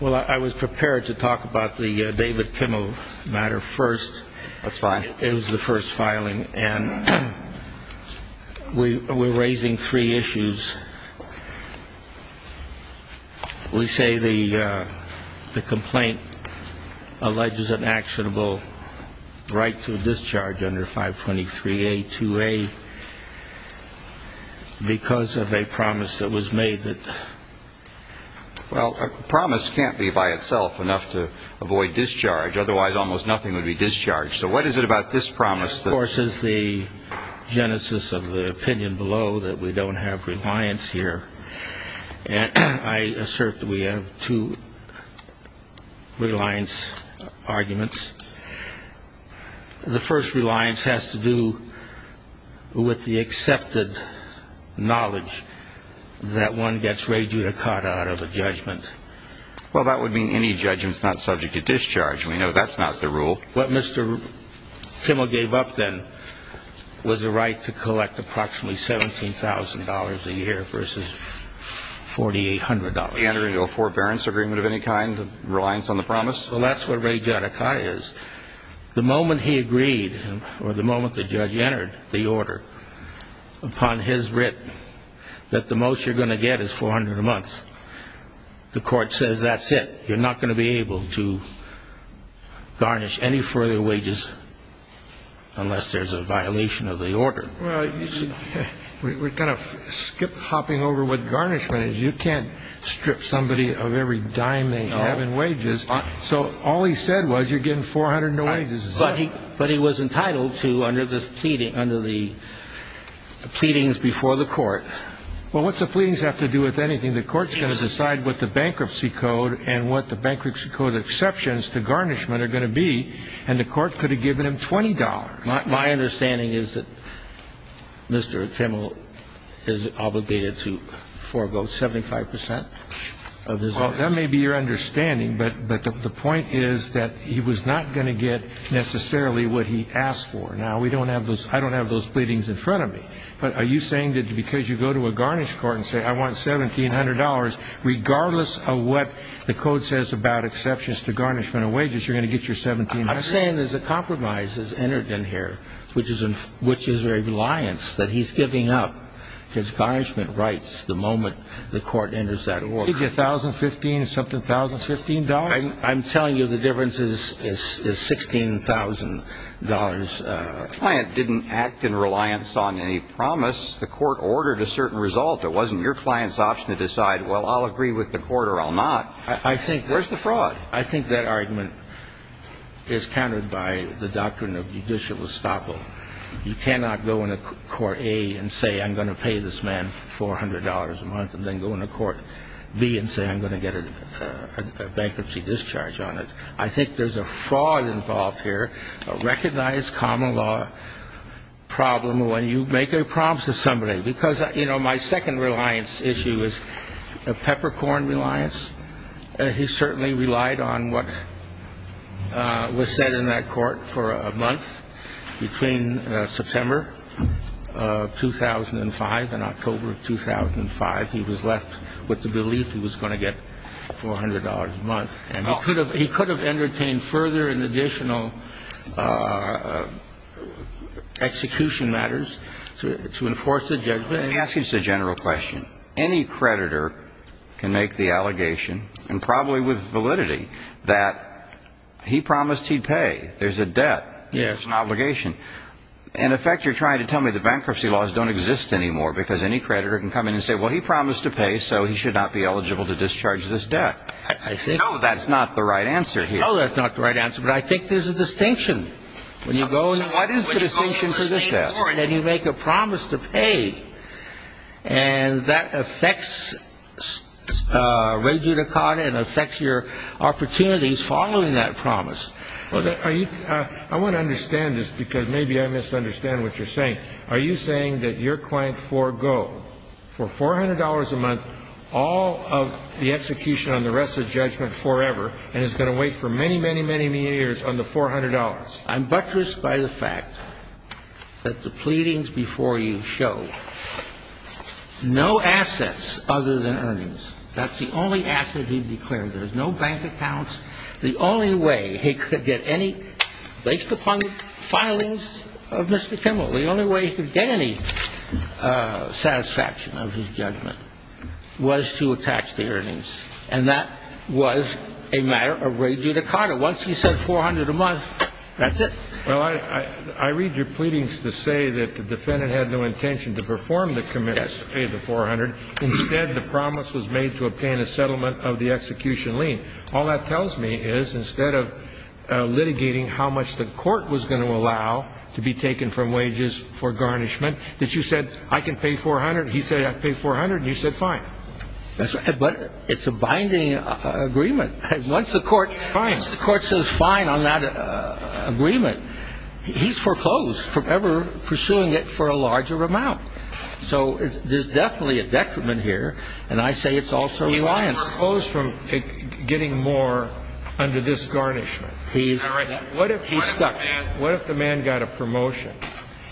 Well, I was prepared to talk about the David Kimmel matter first. That's fine. It was the first filing, and we're raising three issues. We say the complaint alleges an actionable right to discharge under 523A2A because of a promise that was made. Well, a promise can't be by itself enough to avoid discharge. Otherwise, almost nothing would be discharged. So what is it about this promise that – Of course, it's the genesis of the opinion below that we don't have reliance here. And I assert that we have two reliance arguments. The first reliance has to do with the accepted knowledge that one gets rejudicata out of a judgment. Well, that would mean any judgment is not subject to discharge. We know that's not the rule. What Mr. Kimmel gave up then was a right to collect approximately $17,000 a year versus $4,800. And are you a forbearance agreement of any kind, reliance on the promise? Well, that's what rejudicata is. The moment he agreed or the moment the judge entered the order upon his writ that the most you're going to get is $400 a month, the court says that's it. You're not going to be able to garnish any further wages unless there's a violation of the order. Well, we're kind of skip-hopping over what garnishment is. You can't strip somebody of every dime they have in wages. So all he said was you're getting $400. But he was entitled to, under the pleading, under the pleadings before the court. Well, what's the pleadings have to do with anything? The court's going to decide what the bankruptcy code and what the bankruptcy code exceptions to garnishment are going to be. And the court could have given him $20. My understanding is that Mr. Kimmel is obligated to forego 75 percent of his earnings. Well, that may be your understanding, but the point is that he was not going to get necessarily what he asked for. Now, we don't have those ñ I don't have those pleadings in front of me. But are you saying that because you go to a garnish court and say I want $1,700, regardless of what the code says about exceptions to garnishment of wages, you're going to get your $1,700? I'm saying there's a compromise that's entered in here, which is a reliance that he's giving up his garnishment rights the moment the court enters that order. So you get $1,015, something, $1,015? I'm telling you the difference is $16,000. The client didn't act in reliance on any promise. The court ordered a certain result. It wasn't your client's option to decide, well, I'll agree with the court or I'll not. Where's the fraud? I think that argument is countered by the doctrine of judicial estoppel. You cannot go into court A and say I'm going to pay this man $400 a month and then go into court B and say I'm going to get a bankruptcy discharge on it. I think there's a fraud involved here, a recognized common law problem when you make a promise to somebody. Because, you know, my second reliance issue is a peppercorn reliance. He certainly relied on what was said in that court for a month between September of 2005 and October of 2005. He was left with the belief he was going to get $400 a month. And he could have entertained further and additional execution matters to enforce the judgment. Let me ask you just a general question. Any creditor can make the allegation, and probably with validity, that he promised he'd pay. There's a debt. There's an obligation. In effect, you're trying to tell me the bankruptcy laws don't exist anymore because any creditor can come in and say, well, he promised to pay, so he should not be eligible to discharge this debt. No, that's not the right answer here. No, that's not the right answer, but I think there's a distinction. When you go in, what is the distinction for this debt? That you make a promise to pay. And that affects regula con and affects your opportunities following that promise. I want to understand this because maybe I misunderstand what you're saying. Are you saying that your client forego for $400 a month all of the execution on the rest of judgment forever and is going to wait for many, many, many years on the $400? I'm buttressed by the fact that the pleadings before you show no assets other than earnings. That's the only asset he declared. There's no bank accounts. The only way he could get any, based upon the filings of Mr. Kimmel, the only way he could get any satisfaction of his judgment was to attach the earnings. And that was a matter of regula con. Once he said $400 a month, that's it. Well, I read your pleadings to say that the defendant had no intention to perform the commitment to pay the $400. Instead, the promise was made to obtain a settlement of the execution lien. All that tells me is instead of litigating how much the court was going to allow to be taken from wages for garnishment, that you said, I can pay $400, he said, I pay $400, and you said fine. But it's a binding agreement. Once the court says fine on that agreement, he's foreclosed from ever pursuing it for a larger amount. So there's definitely a detriment here, and I say it's also a bias. He's foreclosed from getting more under this garnishment. What if he's stuck? What if the man got a promotion?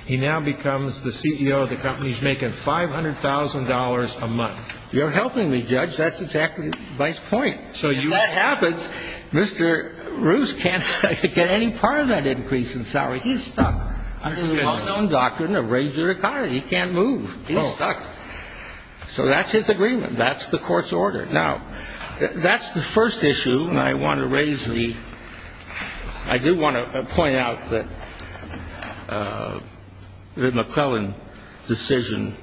He now becomes the CEO of the company. He's making $500,000 a month. You're helping me, Judge. That's exactly my point. If that happens, Mr. Roos can't get any part of that increase in salary. He's stuck. Under the well-known doctrine of regula con. He can't move. He's stuck. So that's his agreement. That's the court's order. Now, that's the first issue, and I do want to point out that the McClellan decision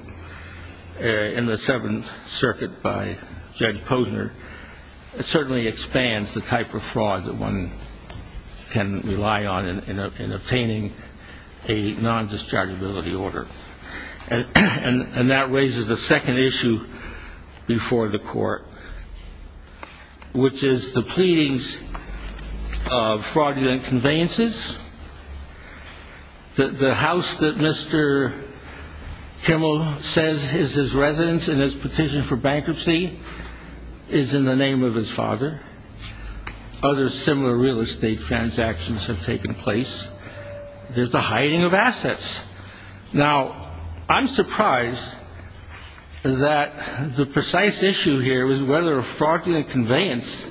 in the Seventh Circuit by Judge Posner certainly expands the type of fraud that one can rely on in obtaining a non-dischargeability order. And that raises the second issue before the court, which is the pleadings of fraudulent conveyances. The house that Mr. Kimmel says is his residence in his petition for bankruptcy is in the name of his father. Other similar real estate transactions have taken place. There's the hiding of assets. Now, I'm surprised that the precise issue here is whether a fraudulent conveyance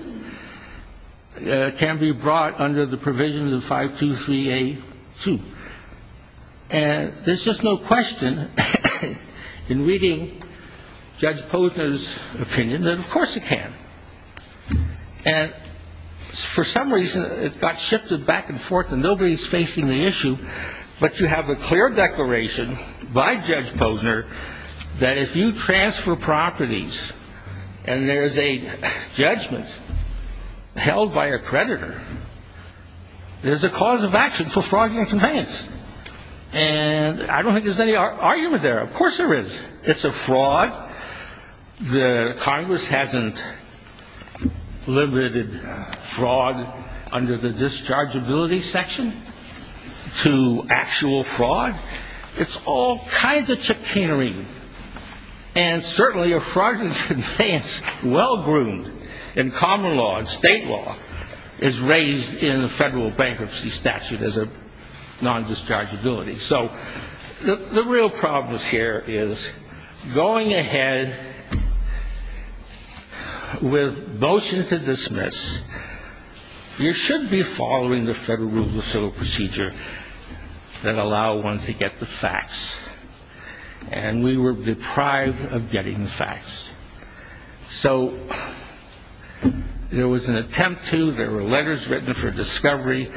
can be brought under the provisions of 523A2. And there's just no question in reading Judge Posner's opinion that, of course, it can. And for some reason, it got shifted back and forth, and nobody's facing the issue, but you have a clear declaration by Judge Posner that if you transfer properties and there is a judgment held by a creditor, there's a cause of action for fraudulent conveyance. And I don't think there's any argument there. It's a fraud. The Congress hasn't limited fraud under the dischargeability section to actual fraud. It's all kinds of chicanery. And certainly a fraudulent conveyance well-groomed in common law and state law is raised in the federal bankruptcy statute as a non-dischargeability. So the real problem here is going ahead with motions to dismiss, you should be following the federal rule of civil procedure that allow one to get the facts. And we were deprived of getting the facts. So there was an attempt to, there were letters written for discovery,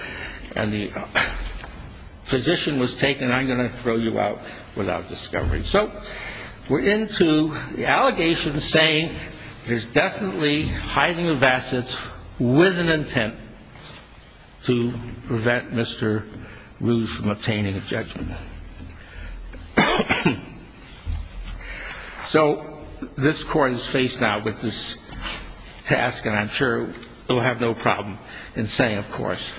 and the position was taken, I'm going to throw you out without discovery. So we're into the allegations saying there's definitely hiding of assets with an intent to prevent Mr. Ruse from obtaining a judgment. So this Court is faced now with this task, and I'm sure it will have no problem in saying, of course,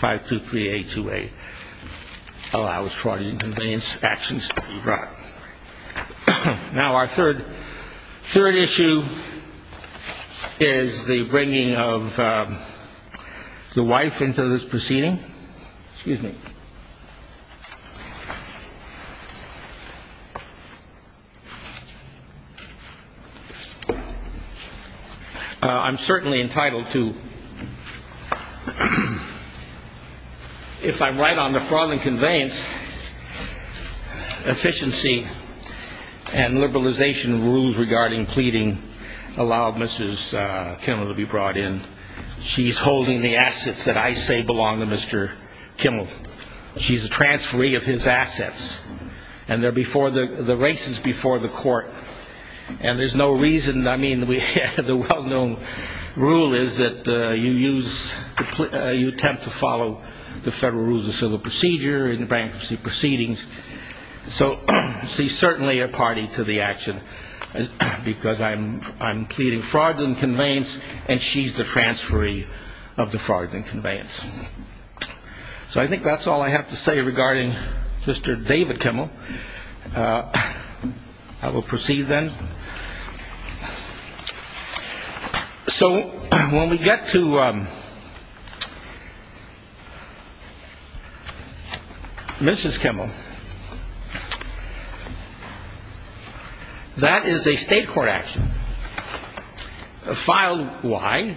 523828, allow fraudulent conveyance actions to be brought. Now our third issue is the bringing of the wife into this proceeding. Excuse me. I'm certainly entitled to, if I'm right on the fraudulent conveyance, efficiency and liberalization of rules regarding pleading allow Mrs. Kimmel to be brought in. She's holding the assets that I say belong to Mr. Kimmel. She's a transferee of his assets. And the race is before the Court. And there's no reason, I mean, the well-known rule is that you use, you attempt to follow the federal rules of civil procedure and bankruptcy proceedings. So she's certainly a party to the action, because I'm pleading fraudulent conveyance, and she's the transferee of the fraudulent conveyance. So I think that's all I have to say regarding Mr. David Kimmel. I will proceed then. So when we get to Mrs. Kimmel, that is a state court action. Filed why?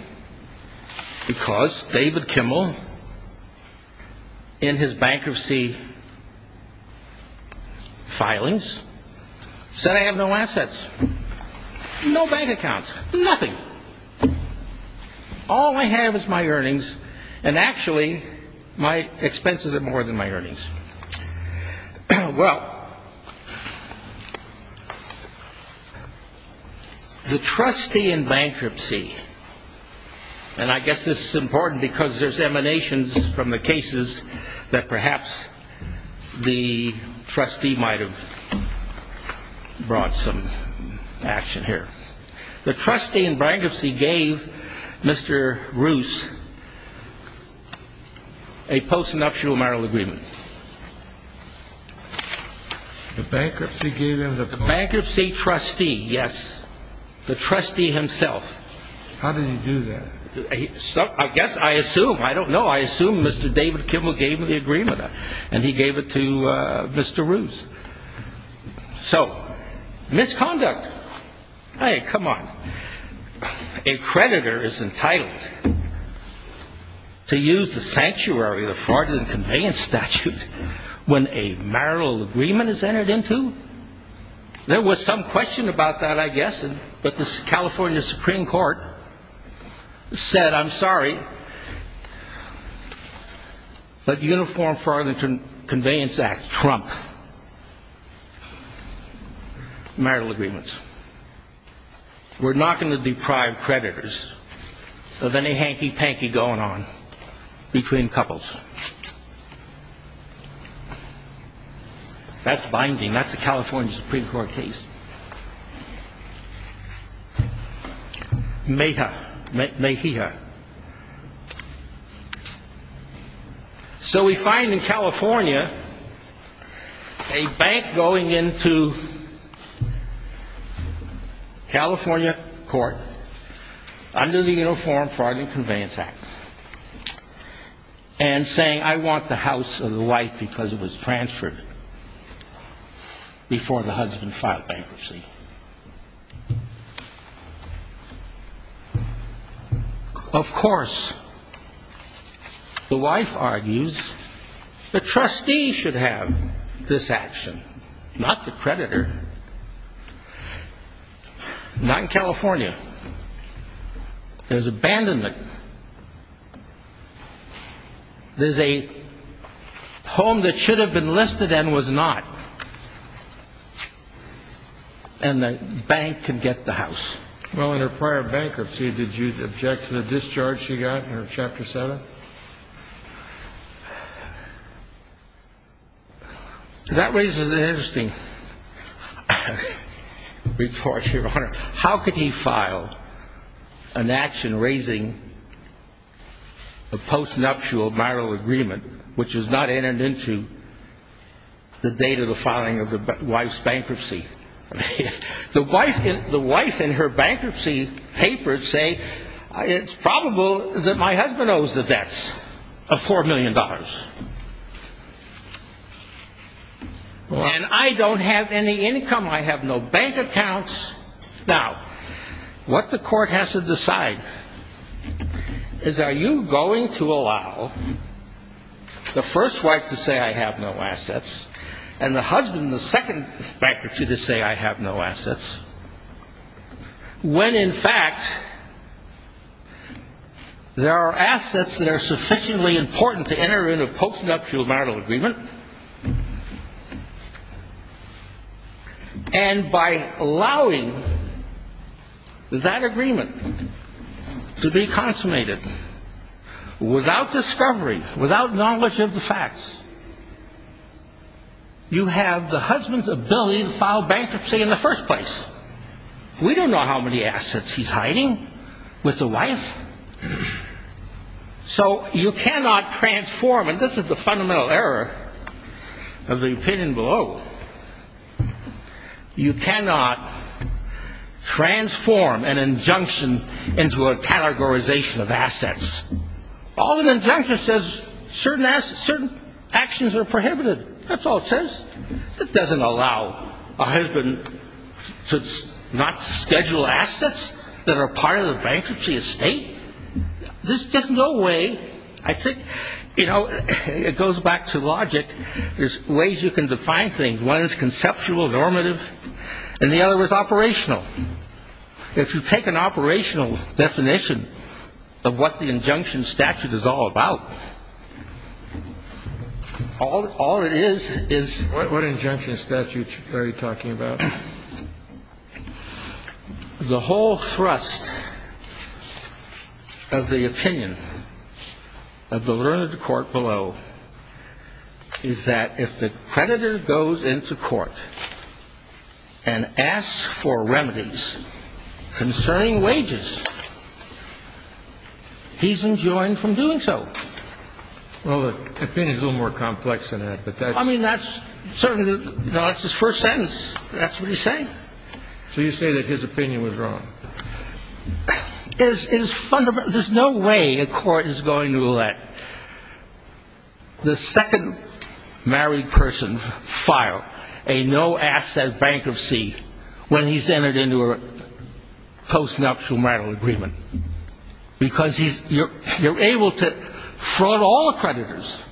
Because David Kimmel, in his bankruptcy filings, said I have no assets, no bank accounts, nothing. All I have is my earnings, and actually my expenses are more than my earnings. Well, the trustee in bankruptcy, and I guess this is important because there's emanations from the cases that perhaps the trustee might have brought some action here. The trustee in bankruptcy gave Mr. Roos a post-nuptial marital agreement. The bankruptcy gave him the post? The bankruptcy trustee, yes. The trustee himself. How did he do that? I guess I assume. I don't know. I assume Mr. David Kimmel gave him the agreement, and he gave it to Mr. Roos. So, misconduct. Hey, come on. A creditor is entitled to use the sanctuary of the fraudulent conveyance statute when a marital agreement is entered into? There was some question about that, I guess, but the California Supreme Court said I'm sorry, but uniform fraudulent conveyance acts trump marital agreements. We're not going to deprive creditors of any hanky-panky going on between couples. That's binding. That's a California Supreme Court case. Mejia. So we find in California a bank going into California court under the Uniform Fraud and Conveyance Act and saying I want the house of the wife because it was transferred before the husband filed bankruptcy. Of course, the wife argues the trustee should have this action, not the creditor. Not in California. There's abandonment. There's a home that should have been listed and was not, and the bank can get the house. Well, in her prior bankruptcy, did you object to the discharge she got in her Chapter 7? How could he file an action raising a postnuptial marital agreement, which was not entered into the date of the filing of the wife's bankruptcy? The wife in her bankruptcy papers say it's probable that my husband owes the debts of $4 million. And I don't have any income. I have no bank accounts. Now, what the court has to decide is are you going to allow the first wife to say I have no assets and the husband, the second bankruptcy, to say I have no assets, when, in fact, there are assets that are sufficiently important to enter into a postnuptial marital agreement, and by allowing that agreement to be consummated without discovery, without knowledge of the facts, you have the husband's ability to file bankruptcy in the first place. We don't know how many assets he's hiding with the wife. So you cannot transform, and this is the fundamental error of the opinion below, you cannot transform an injunction into a categorization of assets. All an injunction says is certain actions are prohibited. That's all it says. It doesn't allow a husband to not schedule assets that are part of the bankruptcy estate. There's just no way. I think, you know, it goes back to logic. There's ways you can define things. One is conceptual, normative, and the other is operational. If you take an operational definition of what the injunction statute is all about, all it is is — What injunction statute are you talking about? The whole thrust of the opinion of the learned court below is that if the creditor goes into court and asks for remedies concerning wages, he's enjoined from doing so. Well, the opinion is a little more complex than that, but that's — I mean, that's certainly — no, that's his first sentence. That's what he's saying. So you say that his opinion was wrong. It is fundamental. There's no way a court is going to let the second married person file a no-asset bankruptcy when he's entered into a post-nuptial marital agreement because you're able to fraud all creditors,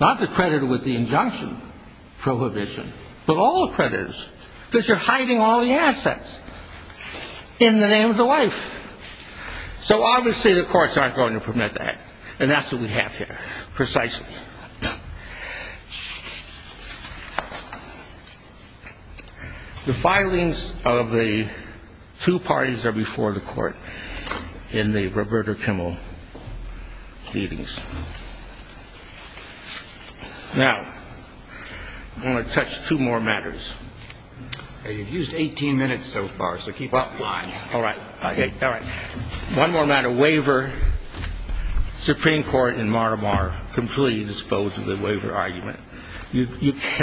not the creditor with the injunction prohibition, but all creditors because you're hiding all the assets in the name of the wife. So obviously the courts aren't going to permit that, and that's what we have here precisely. The filings of the two parties are before the court in the Roberta Kimmel pleadings. Now, I want to touch two more matters. You've used 18 minutes so far, so keep up. All right. All right. One more matter. Waiver. Supreme Court in Mar-a-Mar completely disposed of the waiver argument.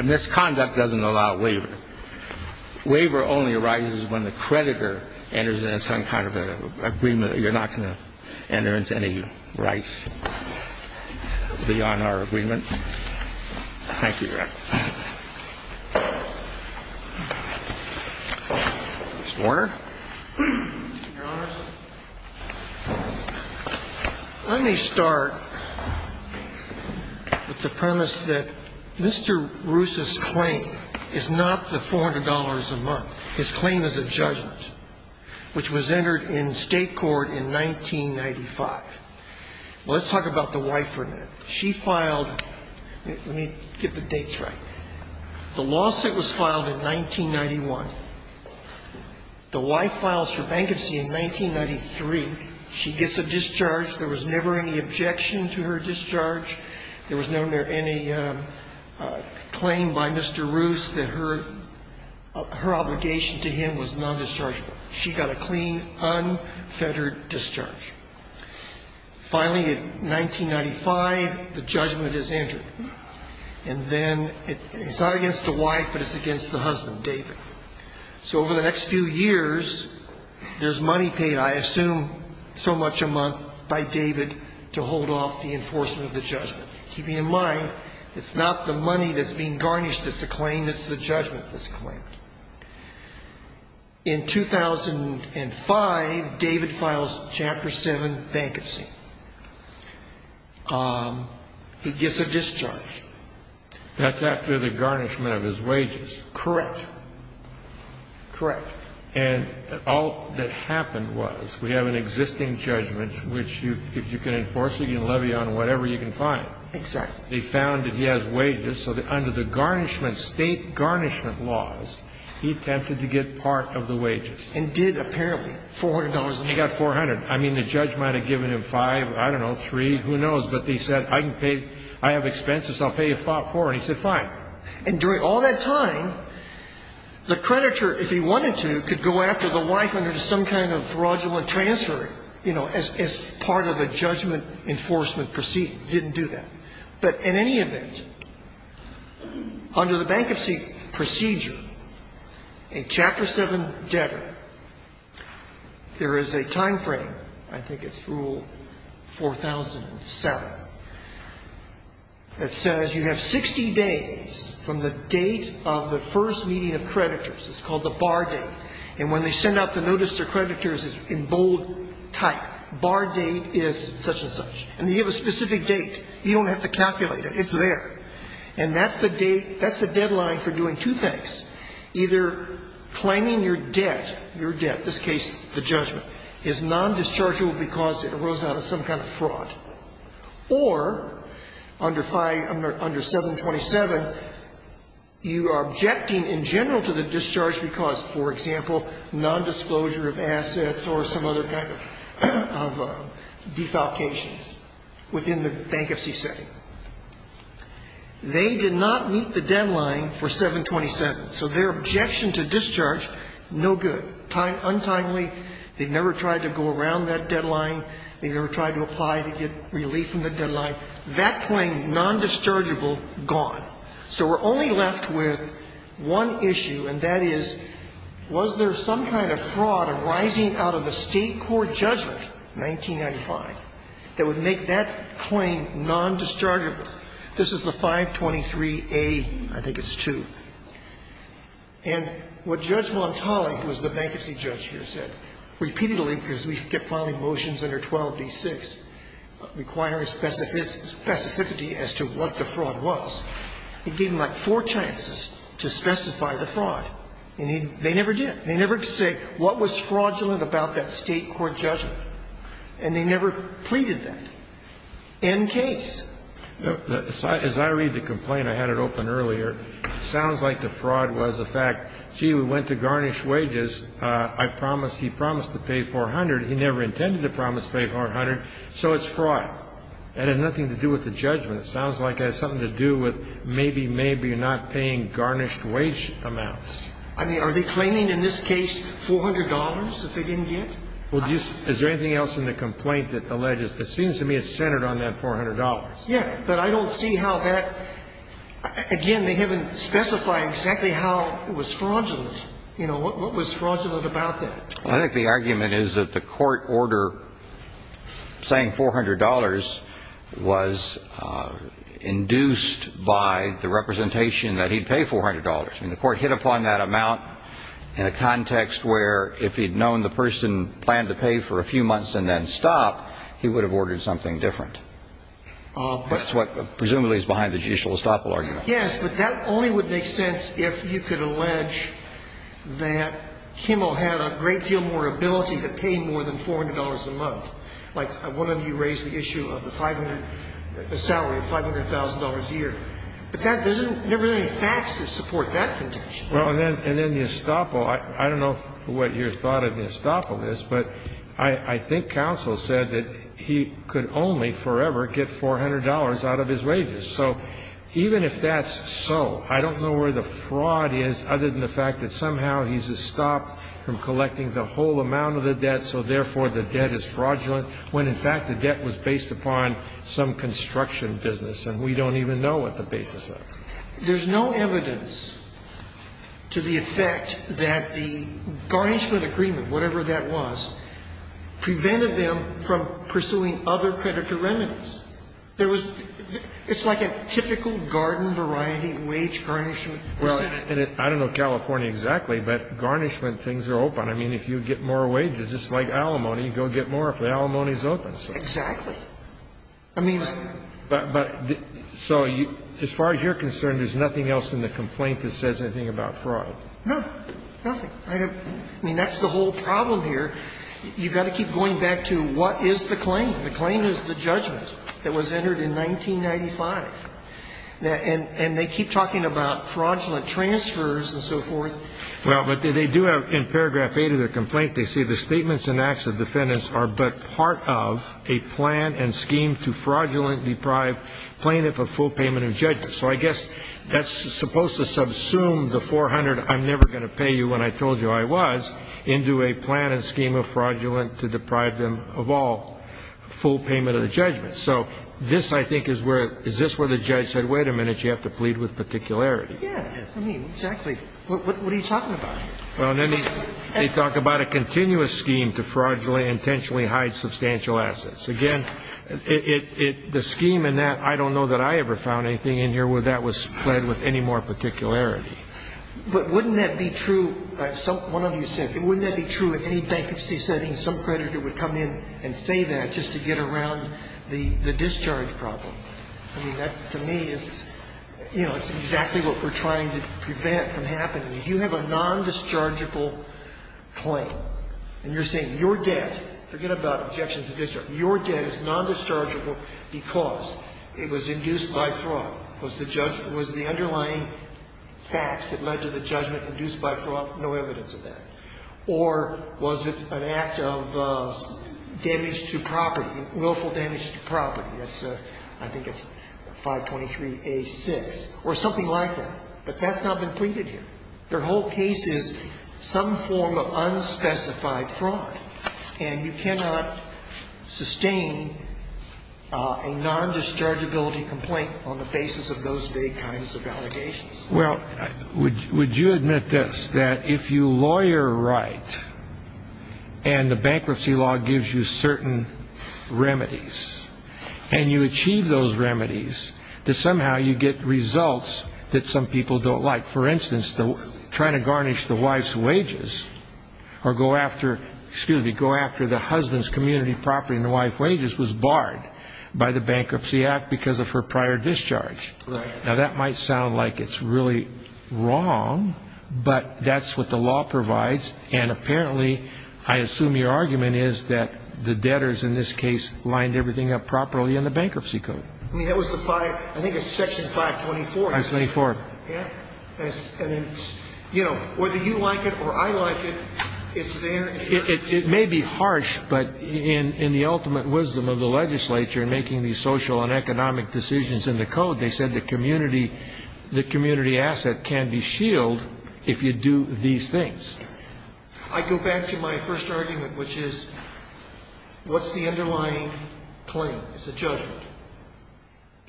Misconduct doesn't allow waiver. Waiver only arises when the creditor enters into some kind of agreement. You're not going to enter into any rights beyond our agreement. Thank you, Your Honor. Mr. Warner. Your Honors, let me start with the premise that Mr. Roos's claim is not the $400 a month. His claim is a judgment, which was entered in state court in 1995. Let's talk about the wife for a minute. She filed ñ let me get the dates right. The lawsuit was filed in 1991. The wife files for bankruptcy in 1993. She gets a discharge. There was never any objection to her discharge. There was never any claim by Mr. Roos that her obligation to him was non-dischargeable. She got a clean, unfettered discharge. Finally, in 1995, the judgment is entered. And then it's not against the wife, but it's against the husband, David. So over the next few years, there's money paid, I assume so much a month, by David to hold off the enforcement of the judgment. Keeping in mind, it's not the money that's being garnished that's the claim, it's the judgment that's the claim. In 2005, David files Chapter 7 bankruptcy. He gets a discharge. That's after the garnishment of his wages. Correct. Correct. And all that happened was we have an existing judgment, which if you can enforce it, you can levy on whatever you can find. Exactly. They found that he has wages, so under the state garnishment laws, he attempted to get part of the wages. And did, apparently. $400 a month. He got $400. I mean, the judge might have given him five, I don't know, three, who knows. But he said, I can pay, I have expenses, I'll pay you four. And he said, fine. And during all that time, the creditor, if he wanted to, could go after the wife under some kind of fraudulent transfer, you know, as part of a judgment enforcement proceeding. Didn't do that. But in any event, under the bankruptcy procedure, a Chapter 7 debtor, there is a time frame, I think it's Rule 4007, that says you have 60 days from the date of the first meeting of creditors. It's called the bar date. And when they send out the notice to creditors, it's in bold type. Bar date is such and such. And they have a specific date. You don't have to calculate it. It's there. And that's the date, that's the deadline for doing two things. Either claiming your debt, your debt, this case, the judgment, is non-dischargeable because it arose out of some kind of fraud. Or under 5, under 727, you are objecting in general to the discharge because, for example, non-disclosure of assets or some other kind of defalcations within the bankruptcy setting. They did not meet the deadline for 727. So their objection to discharge, no good. Untimely, they never tried to go around that deadline. They never tried to apply to get relief from the deadline. That claim, non-dischargeable, gone. So we're only left with one issue, and that is, was there some kind of fraud arising out of the State court judgment, 1995, that would make that claim non-dischargeable? This is the 523A, I think it's 2. And what Judge Montali, who is the bankruptcy judge here, said, repeatedly, because we kept filing motions under 12d6 requiring specificity as to what the fraud was, he gave them, like, four chances to specify the fraud. And they never did. They never could say what was fraudulent about that State court judgment. And they never pleaded that. End case. Kennedy. As I read the complaint, I had it open earlier, sounds like the fraud was the fact, gee, we went to garnish wages. I promised, he promised to pay 400. He never intended to promise to pay 400. So it's fraud. It had nothing to do with the judgment. It sounds like it has something to do with maybe, maybe not paying garnished wage amounts. I mean, are they claiming in this case $400 that they didn't get? Well, do you see, is there anything else in the complaint that alleges, it seems to me it's centered on that $400. Yeah. But I don't see how that, again, they haven't specified exactly how it was fraudulent. You know, what was fraudulent about that? Well, I think the argument is that the court order saying $400 was induced by the representation that he'd pay $400. And the court hit upon that amount in a context where if he'd known the person planned to pay for a few months and then stop, he would have ordered something different. But that's what presumably is behind the judicial estoppel argument. Yes, but that only would make sense if you could allege that Kimmel had a great deal more ability to pay more than $400 a month. Like one of you raised the issue of the 500, the salary of $500,000 a year. But that doesn't, there aren't any facts that support that contention. Well, and then the estoppel, I don't know what your thought of the estoppel is, but I think counsel said that he could only forever get $400 out of his wages. So even if that's so, I don't know where the fraud is, other than the fact that somehow he's estopped from collecting the whole amount of the debt, so therefore the debt is fraudulent, when in fact the debt was based upon some construction business, and we don't even know what the basis of it is. There's no evidence to the effect that the garnishment agreement, whatever that was, prevented them from pursuing other creditor remedies. There was, it's like a typical garden variety wage garnishment. Well, and I don't know California exactly, but garnishment things are open. I mean, if you get more wages, just like alimony, you go get more if the alimony is open. Exactly. I mean, but, but, so as far as you're concerned, there's nothing else in the complaint that says anything about fraud? No, nothing. I mean, that's the whole problem here. You've got to keep going back to what is the claim. The claim is the judgment. That was entered in 1995. And they keep talking about fraudulent transfers and so forth. Well, but they do have, in paragraph 8 of their complaint, they say the statements and acts of defendants are but part of a plan and scheme to fraudulently deprive plaintiff of full payment of judgment. So I guess that's supposed to subsume the 400 I'm never going to pay you when I told you I was into a plan and scheme of fraudulent to deprive them of all full payment of the judgment. So this, I think, is where, is this where the judge said, wait a minute, you have to plead with particularity. Yeah. I mean, exactly. What are you talking about? Well, they talk about a continuous scheme to fraudulently intentionally hide substantial assets. Again, it, it, the scheme in that, I don't know that I ever found anything in here where that was pled with any more particularity. But wouldn't that be true, one of you said, wouldn't that be true in any bankruptcy setting, some creditor would come in and say that just to get around the discharge problem? I mean, that, to me, is, you know, it's exactly what we're trying to prevent from happening. If you have a nondischargeable claim, and you're saying your debt, forget about objections to discharge, your debt is nondischargeable because it was induced by fraud, was the underlying facts that led to the judgment induced by fraud? No evidence of that. Or was it an act of damage to property, willful damage to property? That's a, I think it's 523A6, or something like that. But that's not been pleaded here. Their whole case is some form of unspecified fraud. And you cannot sustain a nondischargeability complaint on the basis of those vague kinds of allegations. Well, would you admit this, that if you lawyer right, and the bankruptcy law gives you certain remedies, and you achieve those remedies, that somehow you get results that some people don't like? For instance, trying to garnish the wife's wages, or go after, excuse me, go after the husband's community property and the wife's wages was barred by the Bankruptcy Act because of her prior discharge. Right. Now, that might sound like it's really wrong, but that's what the law provides. And apparently, I assume your argument is that the debtors in this case lined everything up properly in the bankruptcy code. I mean, that was the 5, I think it's Section 524. 524. Yeah. And then, you know, whether you like it or I like it, it's there. It may be harsh, but in the ultimate wisdom of the legislature in making these decisions in the code, they said the community, the community asset can be shielded if you do these things. I go back to my first argument, which is what's the underlying claim? It's a judgment.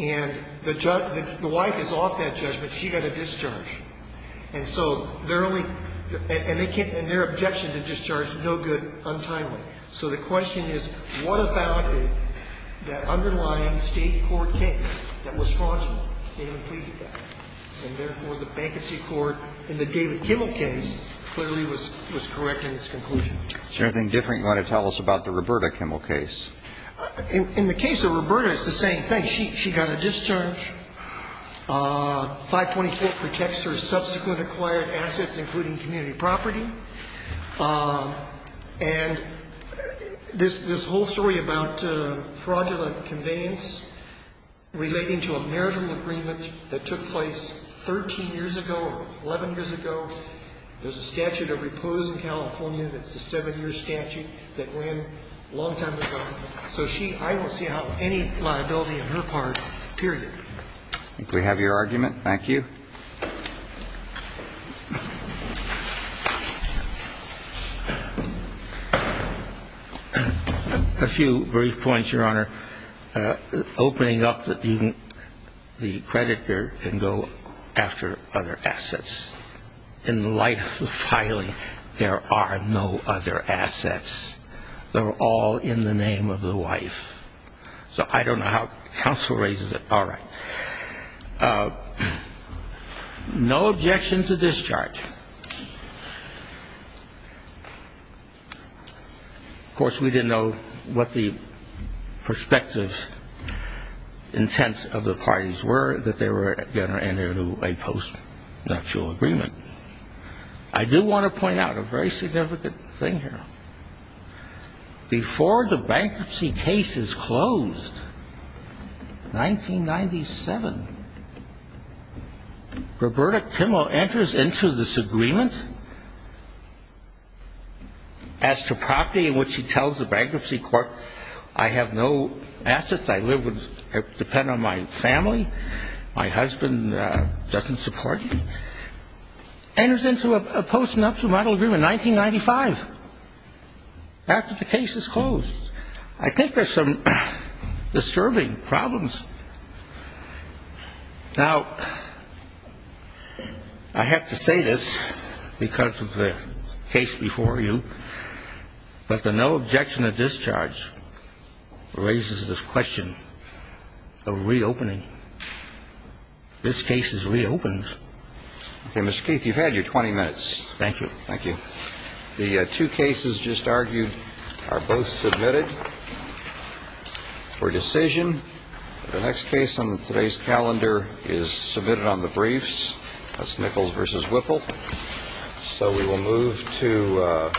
And the wife is off that judgment. She got a discharge. And so they're only, and their objection to discharge, no good, untimely. So the question is, what about that underlying state court case that was fraudulent in completing that? And therefore, the bankruptcy court in the David Kimmel case clearly was correct in its conclusion. Is there anything different you want to tell us about the Roberta Kimmel case? In the case of Roberta, it's the same thing. She got a discharge. 524 protects her subsequent acquired assets, including community property. And this whole story about fraudulent conveyance relating to a marital agreement that took place 13 years ago or 11 years ago, there's a statute of repose in California that's a seven-year statute that ran a long time ago. So she, I don't see how any liability on her part, period. If we have your argument, thank you. A few brief points, Your Honor. Opening up the creditor can go after other assets. In the light of the filing, there are no other assets. They're all in the name of the wife. So I don't know how counsel raises it. All right. No objection to discharge. Of course, we didn't know what the prospective intents of the parties were that they were going to enter into a post-nuptial agreement. I do want to point out a very significant thing here. Before the bankruptcy case is closed, 1997, Roberta Kimmel enters into this agreement as to property in which she tells the bankruptcy court, I have no assets. I depend on my family. My husband doesn't support me. Enters into a post-nuptial model agreement in 1995 after the case is closed. I think there's some disturbing problems. Now, I have to say this because of the case before you, but the no objection to discharge raises this question of reopening. This case is reopened. Okay, Mr. Keith, you've had your 20 minutes. Thank you. Thank you. The two cases just argued are both submitted for decision. The next case on today's calendar is submitted on the briefs. That's Nichols v. Whipple. So we will move to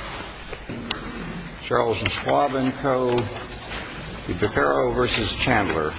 Charles and Schwab in code. DeFerro versus Chandler.